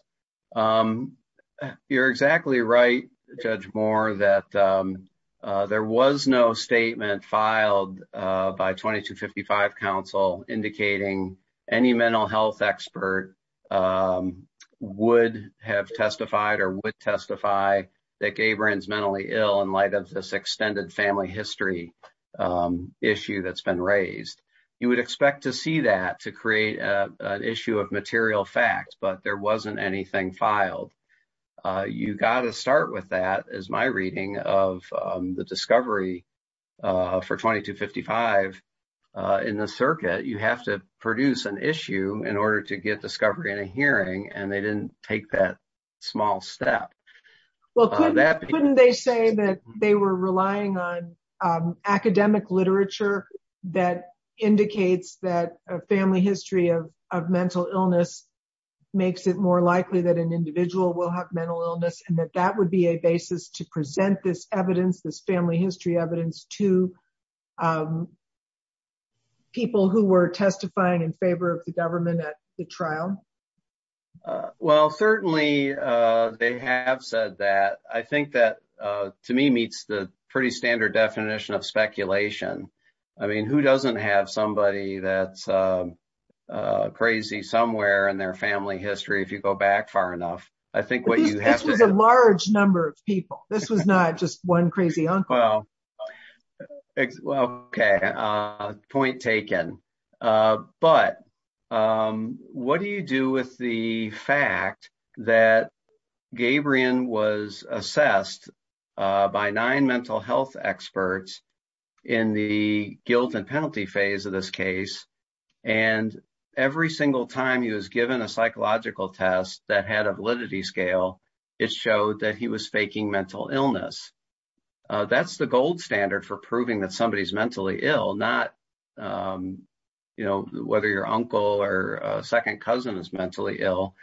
You're exactly right, Judge Moore, that there was no statement filed by 2255 counsel indicating any mental health expert would have testified or would testify that Gabrion's mentally ill in light of this extended family history issue that's been raised. You would expect to see that to create an issue of material fact, but there wasn't anything filed. You got to start with that, as my reading of the discovery for 2255 in the circuit, you have to produce an issue in order to get discovery in a hearing, and they didn't take that small step. Well, couldn't they say that they were relying on academic literature that indicates that a family history of mental illness makes it more likely that an individual will have mental illness, and that that would be a basis to present this evidence, this family history evidence to people who were testifying in favor of the government at the trial? Well, certainly, they have said that. I think that, to me, meets the pretty standard definition of speculation. I mean, who doesn't have somebody that's crazy somewhere in their family history, if you go back far enough? I think what you have to- This was a large number of people. This was not just one crazy uncle. Well, okay. Point taken. But what do you do with the fact that Gabrion was assessed by nine mental health experts in the guilt and penalty phase of this case, and every single time he was given a psychological test that had a validity scale, it showed that he was faking mental illness. That's the gold standard for proving that somebody's mentally ill, not whether your uncle or second cousin is mentally ill.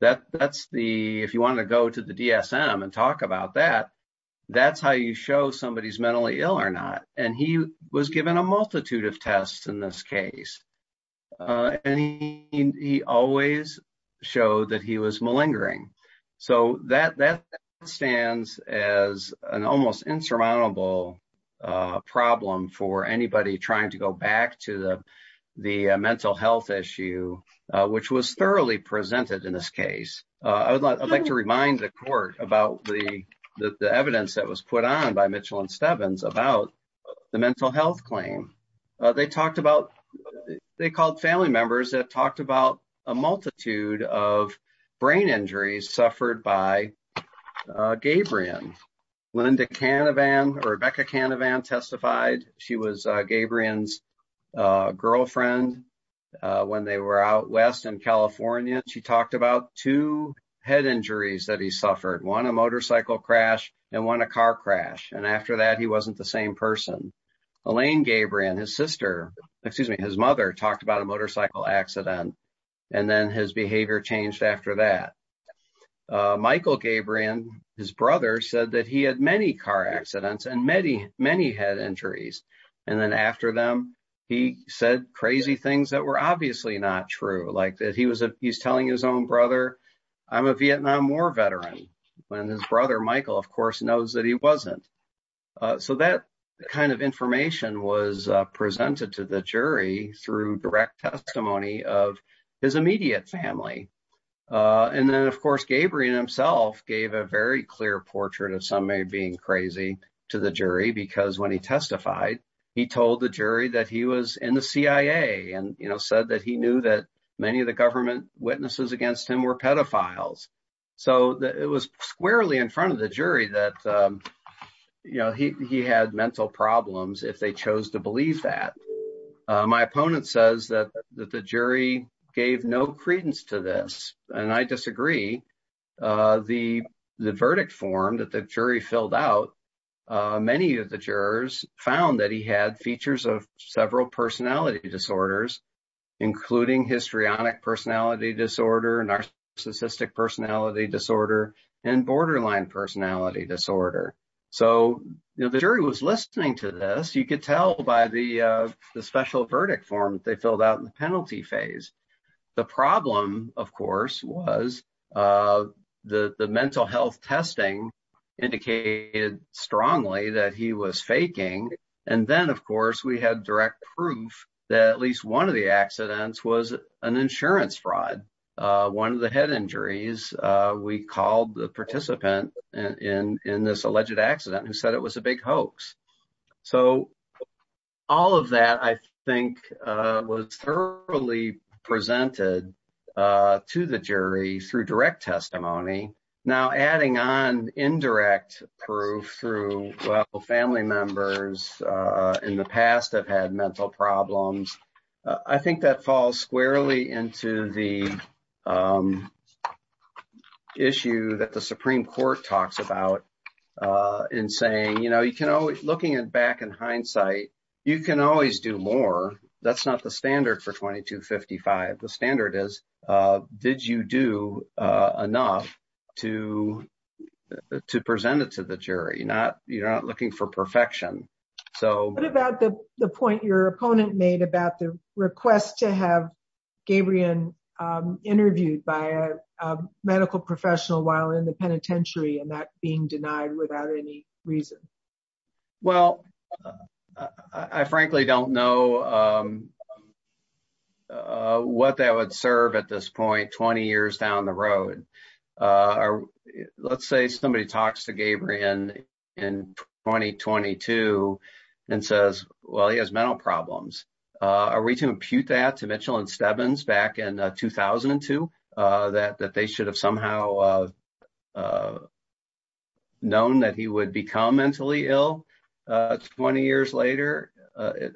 If you want to go to the DSM and talk about that, that's how you show somebody's mentally ill or not. He was given a multitude of tests in this case, and he always showed that he was mentally ill. That stands as an almost insurmountable problem for anybody trying to go back to the mental health issue, which was thoroughly presented in this case. I'd like to remind the court about the evidence that was put on by Mitchell and Stebbins about the mental health claim. They called family members that talked about a multitude of brain injuries suffered by Gabrion. Rebecca Canavan testified. She was Gabrion's girlfriend when they were out west in California. She talked about two head injuries that he suffered, one a motorcycle crash and one a car crash. After that, he wasn't the same person. Elaine Gabrion, his mother, talked about a motorcycle accident. His behavior changed after that. Michael Gabrion, his brother, said that he had many car accidents and many head injuries. After them, he said crazy things that were obviously not true. He was telling his own brother, I'm a Vietnam War veteran, when his brother Michael, of course, knows that he wasn't. That kind of information was presented to the jury through direct testimony of his immediate family. Then, of course, Gabrion himself gave a very clear portrait of somebody being crazy to the jury because when he testified, he told the jury that he was in the CIA and said that he knew that many of the government witnesses against him were pedophiles. It was squarely in front of the jury that he had mental problems if they chose to believe that. My opponent says that the jury gave no credence to this. I disagree. The verdict form that the jury filled out, many of the jurors found that he had features of several personality disorders, including histrionic personality disorder, narcissistic personality disorder, and borderline personality disorder. The jury was listening to this. You could tell by the special verdict form that they filled out in the penalty phase. The problem, of course, was the mental health testing indicated strongly that he was faking. Then, of course, we had direct proof that at least one of the accidents was an insurance fraud. One of the head injuries, we called the participant in this alleged accident who said it was a big hoax. All of that, I think, was thoroughly presented to the jury through direct testimony. Now, adding on indirect proof through, well, family members in the past have had mental problems, I think that falls squarely into the issue that the Supreme Court talks about in saying, looking back in hindsight, you can always do more. That's not the standard for 2255. The standard is, did you do enough to present it to the jury? You're not looking for perfection. What about the point your opponent made about the request to have Gabriel interviewed by a medical professional while in the penitentiary and that being denied without any reason? Well, I frankly don't know what that would serve at this point, 20 years down the road. Let's say somebody talks to Gabriel in 2022 and says, well, he has mental problems. Are we to impute that to Mitchell and Stebbins back in 2002, that they should have somehow known that he would become mentally ill 20 years later?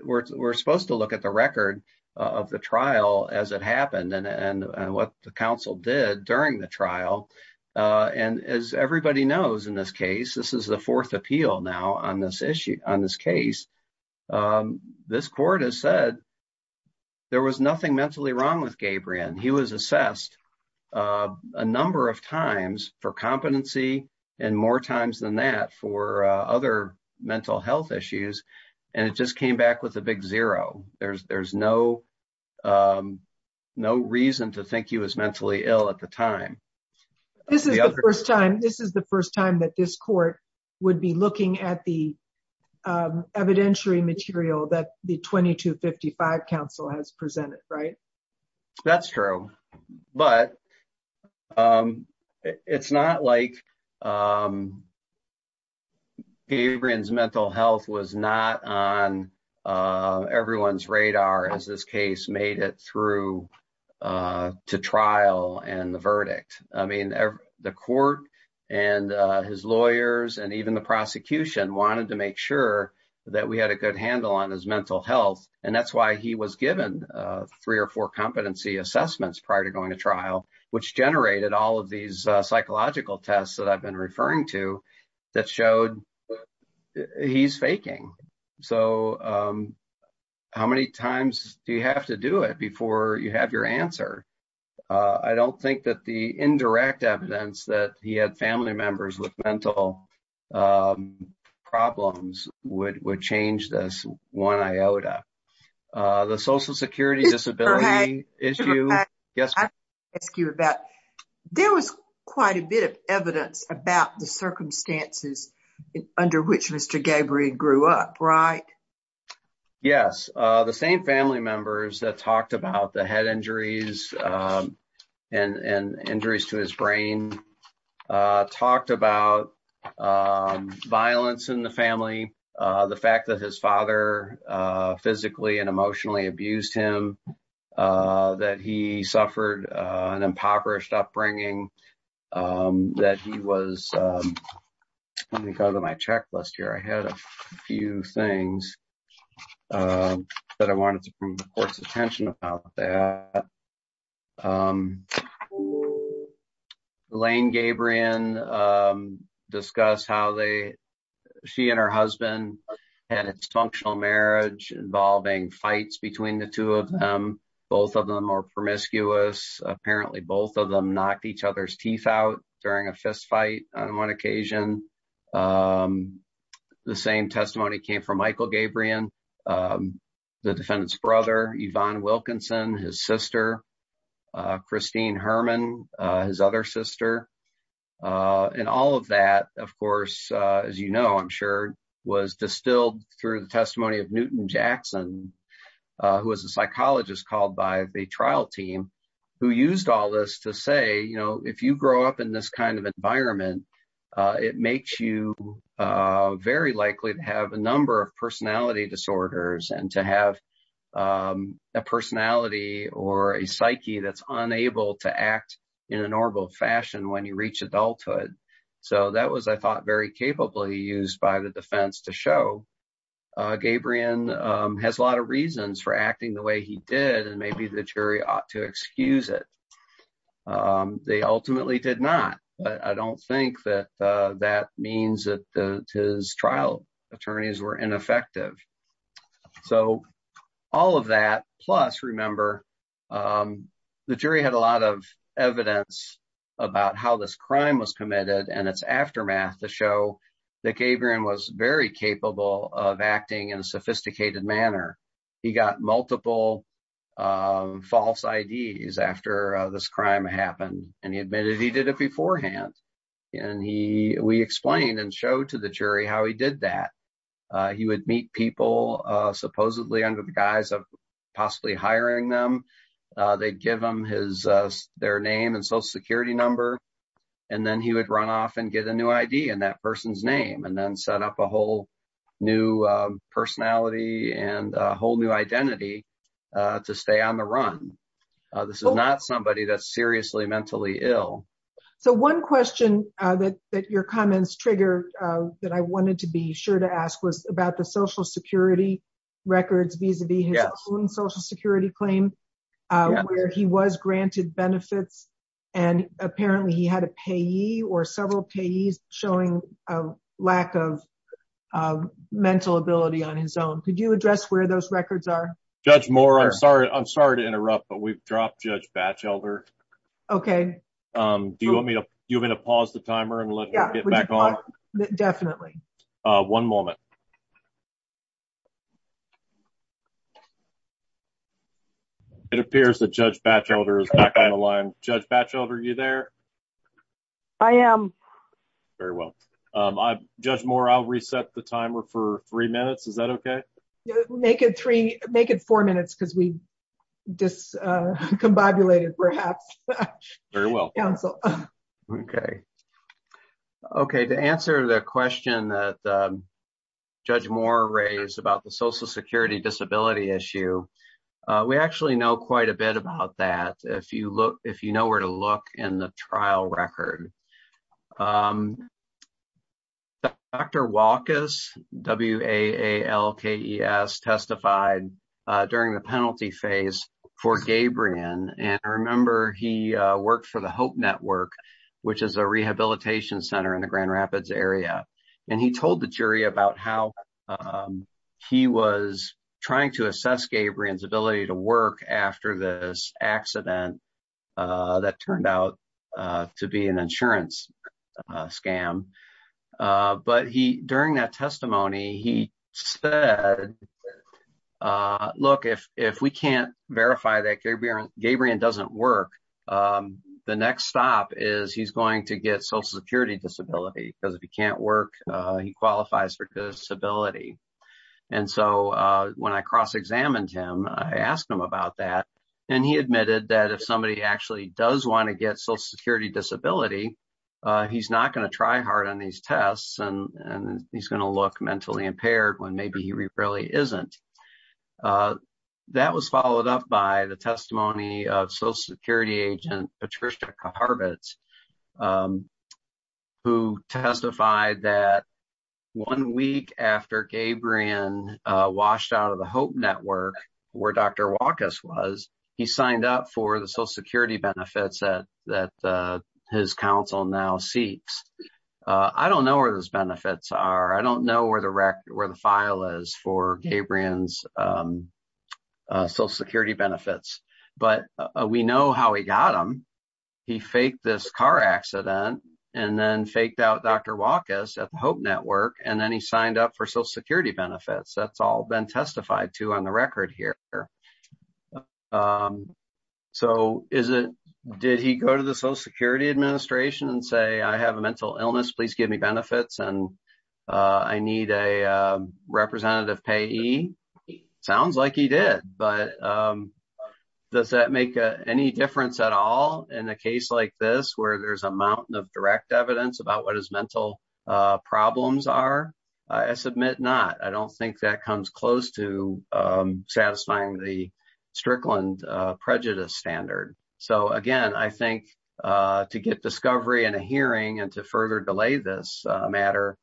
We're supposed to look at the during the trial. And as everybody knows in this case, this is the fourth appeal now on this case. This court has said there was nothing mentally wrong with Gabriel. He was assessed a number of times for competency and more times than that for other mental health issues. And it just came back with a big zero. There's no reason to think he was mentally ill at the time. This is the first time that this court would be looking at the evidentiary material that the 2255 counsel has everyone's radar as this case made it through to trial and the verdict. I mean, the court and his lawyers and even the prosecution wanted to make sure that we had a good handle on his mental health. And that's why he was given three or four competency assessments prior to going to trial, which generated all of these psychological tests that I've been referring to that showed he's how many times do you have to do it before you have your answer? I don't think that the indirect evidence that he had family members with mental problems would would change this one iota. The Social Security disability issue. Yes, I ask you about there was quite a bit of yes, the same family members that talked about the head injuries and injuries to his brain talked about violence in the family. The fact that his father physically and emotionally abused him, that he suffered an impoverished upbringing, that he was let me go to my checklist here. I had a things that I wanted to bring the court's attention about that. Lane Gabrion discuss how they she and her husband had a functional marriage involving fights between the two of them. Both of them are promiscuous. Apparently both of them knocked each other's occasion. The same testimony came from Michael Gabrion, the defendant's brother, Yvonne Wilkinson, his sister, Christine Herman, his other sister. And all of that, of course, as you know, I'm sure was distilled through the testimony of Newton Jackson, who was a psychologist called by the it makes you very likely to have a number of personality disorders and to have a personality or a psyche that's unable to act in a normal fashion when you reach adulthood. So that was, I thought, very capably used by the defense to show. Gabrion has a lot of reasons for acting the way he did, and maybe the jury ought to excuse it. They ultimately did not. But I don't think that that means that his trial attorneys were ineffective. So all of that. Plus, remember, the jury had a lot of evidence about how this crime was committed and its aftermath to show that Gabrion was very capable of acting in a sophisticated manner. He got multiple false IDs after this crime happened, and he admitted he did it beforehand. And he we explained and showed to the jury how he did that. He would meet people supposedly under the guise of possibly hiring them. They give them his their name and social security number, and then he would run off and get a new ID and that person's name and then set up a whole new personality and a whole new identity to stay on the run. This is not somebody that's seriously mentally ill. So one question that your comments trigger that I wanted to be sure to ask was about the social security records vis-a-vis his own social security claim, where he was granted benefits, and apparently he had a payee or several payees showing a lack of mental ability on his own. Could you address where those records are? Judge Moore, I'm sorry, I'm sorry to interrupt, but we've dropped Judge Batchelder. Okay. Do you want me to you want me to pause the timer and let it back on? Definitely. One moment. It appears that Judge Batchelder is back on the line. Judge Batchelder, are you there? I am. Very well. Judge Moore, I'll reset the timer for three minutes. Is that okay? Make it three, make it four minutes because we discombobulated perhaps. Very well. Okay. Okay. To answer the question that Judge Moore raised about the social security disability issue, we actually know quite a bit about that if you know where to look in the trial record. Dr. Walkes, W-A-A-L-K-E-S, testified during the penalty phase for Gabrion. And remember, he worked for the Hope Network, which is a rehabilitation center in the Grand Rapids area. And he told the jury about how he was trying to assess Gabrion's ability to work after this accident that turned out to be an insurance scam. But during that testimony, he said, look, if we can't verify that Gabrion doesn't work, the next stop is he's going to get social security disability because if he can't work, he qualifies for disability. And so when I cross examined him, I asked him about that. And he admitted that if somebody actually does want to get social security disability, he's not going to try hard on these tests and he's going to look impaired when maybe he really isn't. That was followed up by the testimony of social security agent Patricia Harvitz, who testified that one week after Gabrion washed out of the Hope Network, where Dr. Walkes was, he signed up for the social security benefits that his counsel now seeks. I don't know where those benefits are. I don't know where the file is for Gabrion's social security benefits, but we know how he got them. He faked this car accident and then faked out Dr. Walkes at the Hope Network, and then he signed up for social security benefits. That's all been testified to on the record here. So did he go to the social security administration and say, I have a mental illness, please give me benefits and I need a representative payee? Sounds like he did, but does that make any difference at all in a case like this, where there's a mountain of direct evidence about what his mental problems are? I submit not. I don't think that comes close to satisfying the Strickland prejudice standard. So again, I think to get discovery and a hearing and to further delay this matter,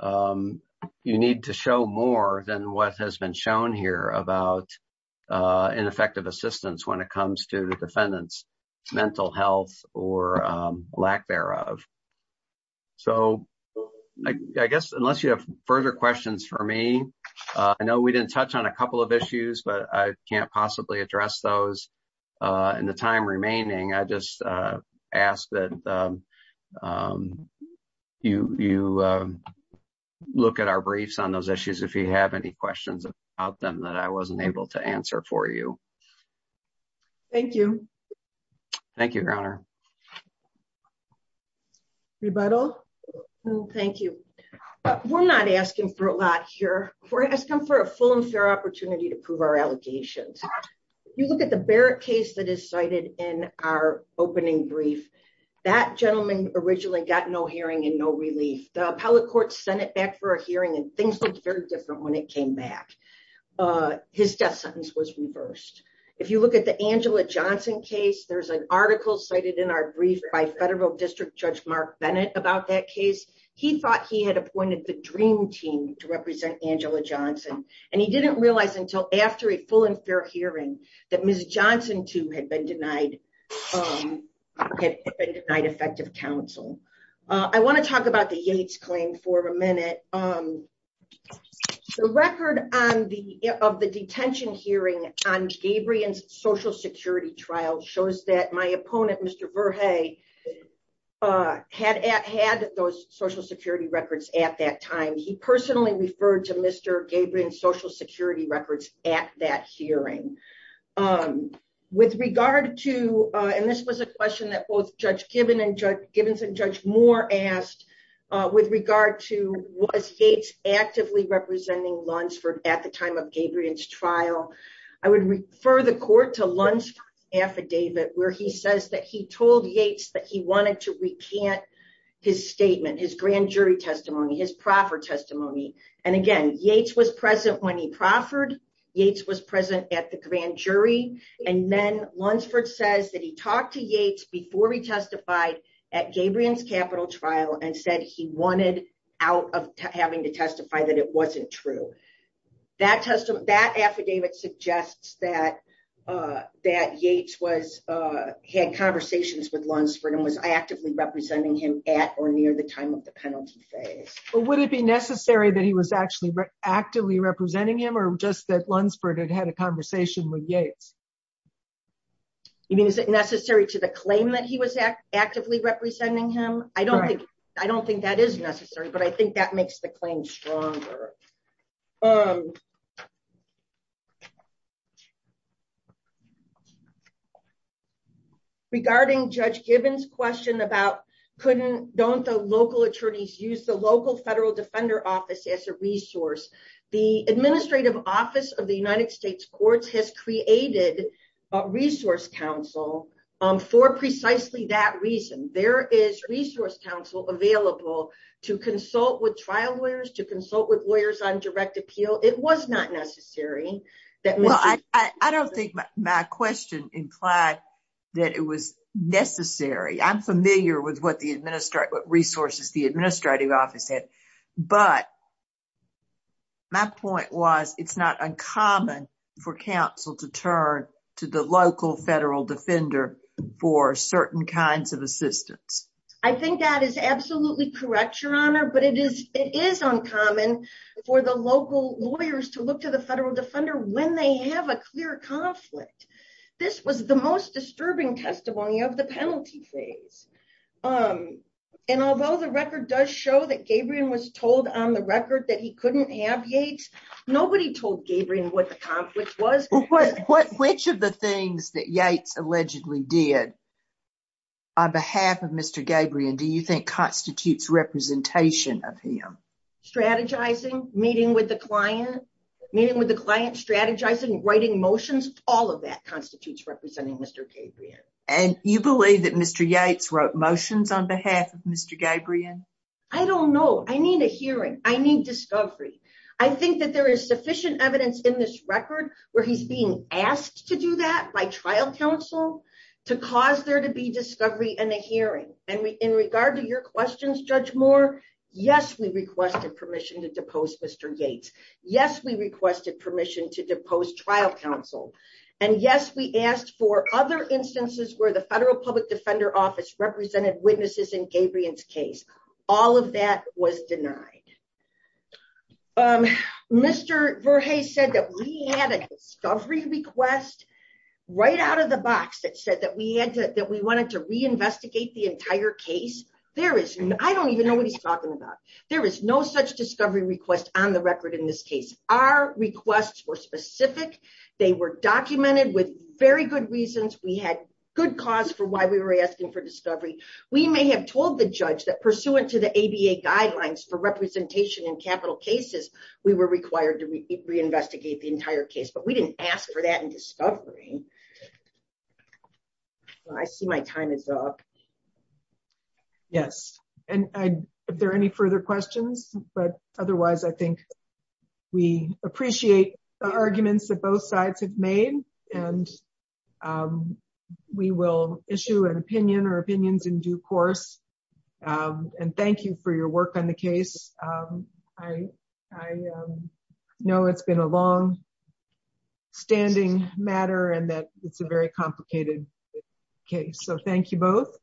you need to show more than what has been shown here about ineffective assistance when it comes to the defendant's mental health or lack thereof. So I guess unless you have further questions for me, I know we didn't touch on a couple of issues, but I can't possibly address those in the time remaining. I just ask that you look at our briefs on those issues, if you have any questions about them that I wasn't able to answer for you. Thank you. Thank you, Your Honor. Rebuttal? Thank you. We're not asking for a lot here. We're asking for a full and fair opportunity to prove our allegations. You look at the Barrett case that is cited in our opening brief. That gentleman originally got no hearing and no relief. The appellate court sent it back for a hearing and things looked very different when it came back. His death sentence was reversed. If you look at the Angela Johnson case, there's an article cited in our brief by Federal District Judge Mark Bennett about that case. He thought he had appointed the DREAM team to represent Angela Johnson, and he didn't realize until after a full and fair hearing that Ms. Johnson, too, had been denied effective counsel. I want to talk about the Yates claim for a minute. The record of the detention hearing on Gabrion's social security trial shows that my opponent, Mr. Verhey, had those social security records at that time. He personally referred to Mr. Gabrion's social security records at that hearing. This was a question that both Judge Gibbons and Judge Moore asked with regard to was Yates actively representing Lunsford at the time of Gabrion's trial. I would refer the court to Lunsford's affidavit where he told Yates that he wanted to recant his statement, his grand jury testimony, his proffer testimony. Again, Yates was present when he proffered. Yates was present at the grand jury. Then Lunsford says that he talked to Yates before he testified at Gabrion's capital trial and said he wanted out of having to testify that it wasn't true. That affidavit suggests that Yates had conversations with Lunsford and was actively representing him at or near the time of the penalty phase. Would it be necessary that he was actually actively representing him or just that Lunsford had had a conversation with Yates? Is it necessary to the claim that he was actively representing him? I don't think that is necessary, but I think that makes the claim stronger. Regarding Judge Gibbons' question about don't the local attorneys use the local federal defender office as a resource, the administrative office of the United States courts has created a resource council for precisely that reason. There is resource council available to consult with trial lawyers, to consult with lawyers on direct appeal. It was not necessary. I don't think my question implied that it was necessary. I'm familiar with what resources the administrative office had, but my point was it's not uncommon for counsel to turn to the local federal defender for certain kinds of assistance. I think that is absolutely correct, Your Honor, but it is uncommon for the local lawyers to look to the federal defender when they have a clear conflict. This was the most disturbing testimony of the penalty phase. Although the record does show that Gabriel was told on the record that he couldn't have Yates, nobody told Gabriel what the conflict was. Which of the things that Yates allegedly did on behalf of Mr. Gabriel do you think constitutes representation of him? Strategizing, meeting with the client, meeting with the client, strategizing, writing motions, all of that constitutes representing Mr. Gabriel. And you believe that Mr. Yates wrote motions on I think that there is sufficient evidence in this record where he's being asked to do that by trial counsel to cause there to be discovery and a hearing. And in regard to your questions, Judge Moore, yes, we requested permission to depose Mr. Yates. Yes, we requested permission to depose trial counsel. And yes, we asked for other instances where the federal public defender office represented witnesses in Gabriel's case. All of that was denied. Mr. Verhey said that we had a discovery request right out of the box that said that we wanted to reinvestigate the entire case. I don't even know what he's talking about. There is no such discovery request on the record in this case. Our requests were specific. They were documented with very good reasons. We had good cause for why we were asking for discovery. We may have told the judge that pursuant to the ABA guidelines for representation in capital cases, we were required to reinvestigate the entire case, but we didn't ask for that in discovery. I see my time is up. Yes. And if there are any further questions, but otherwise I think we appreciate the arguments that both sides have made. And um, we will issue an opinion or opinions in due course. Um, and thank you for your work on the case. Um, I, I, um, know it's been a long standing matter and that it's a very complicated case. So thank you both.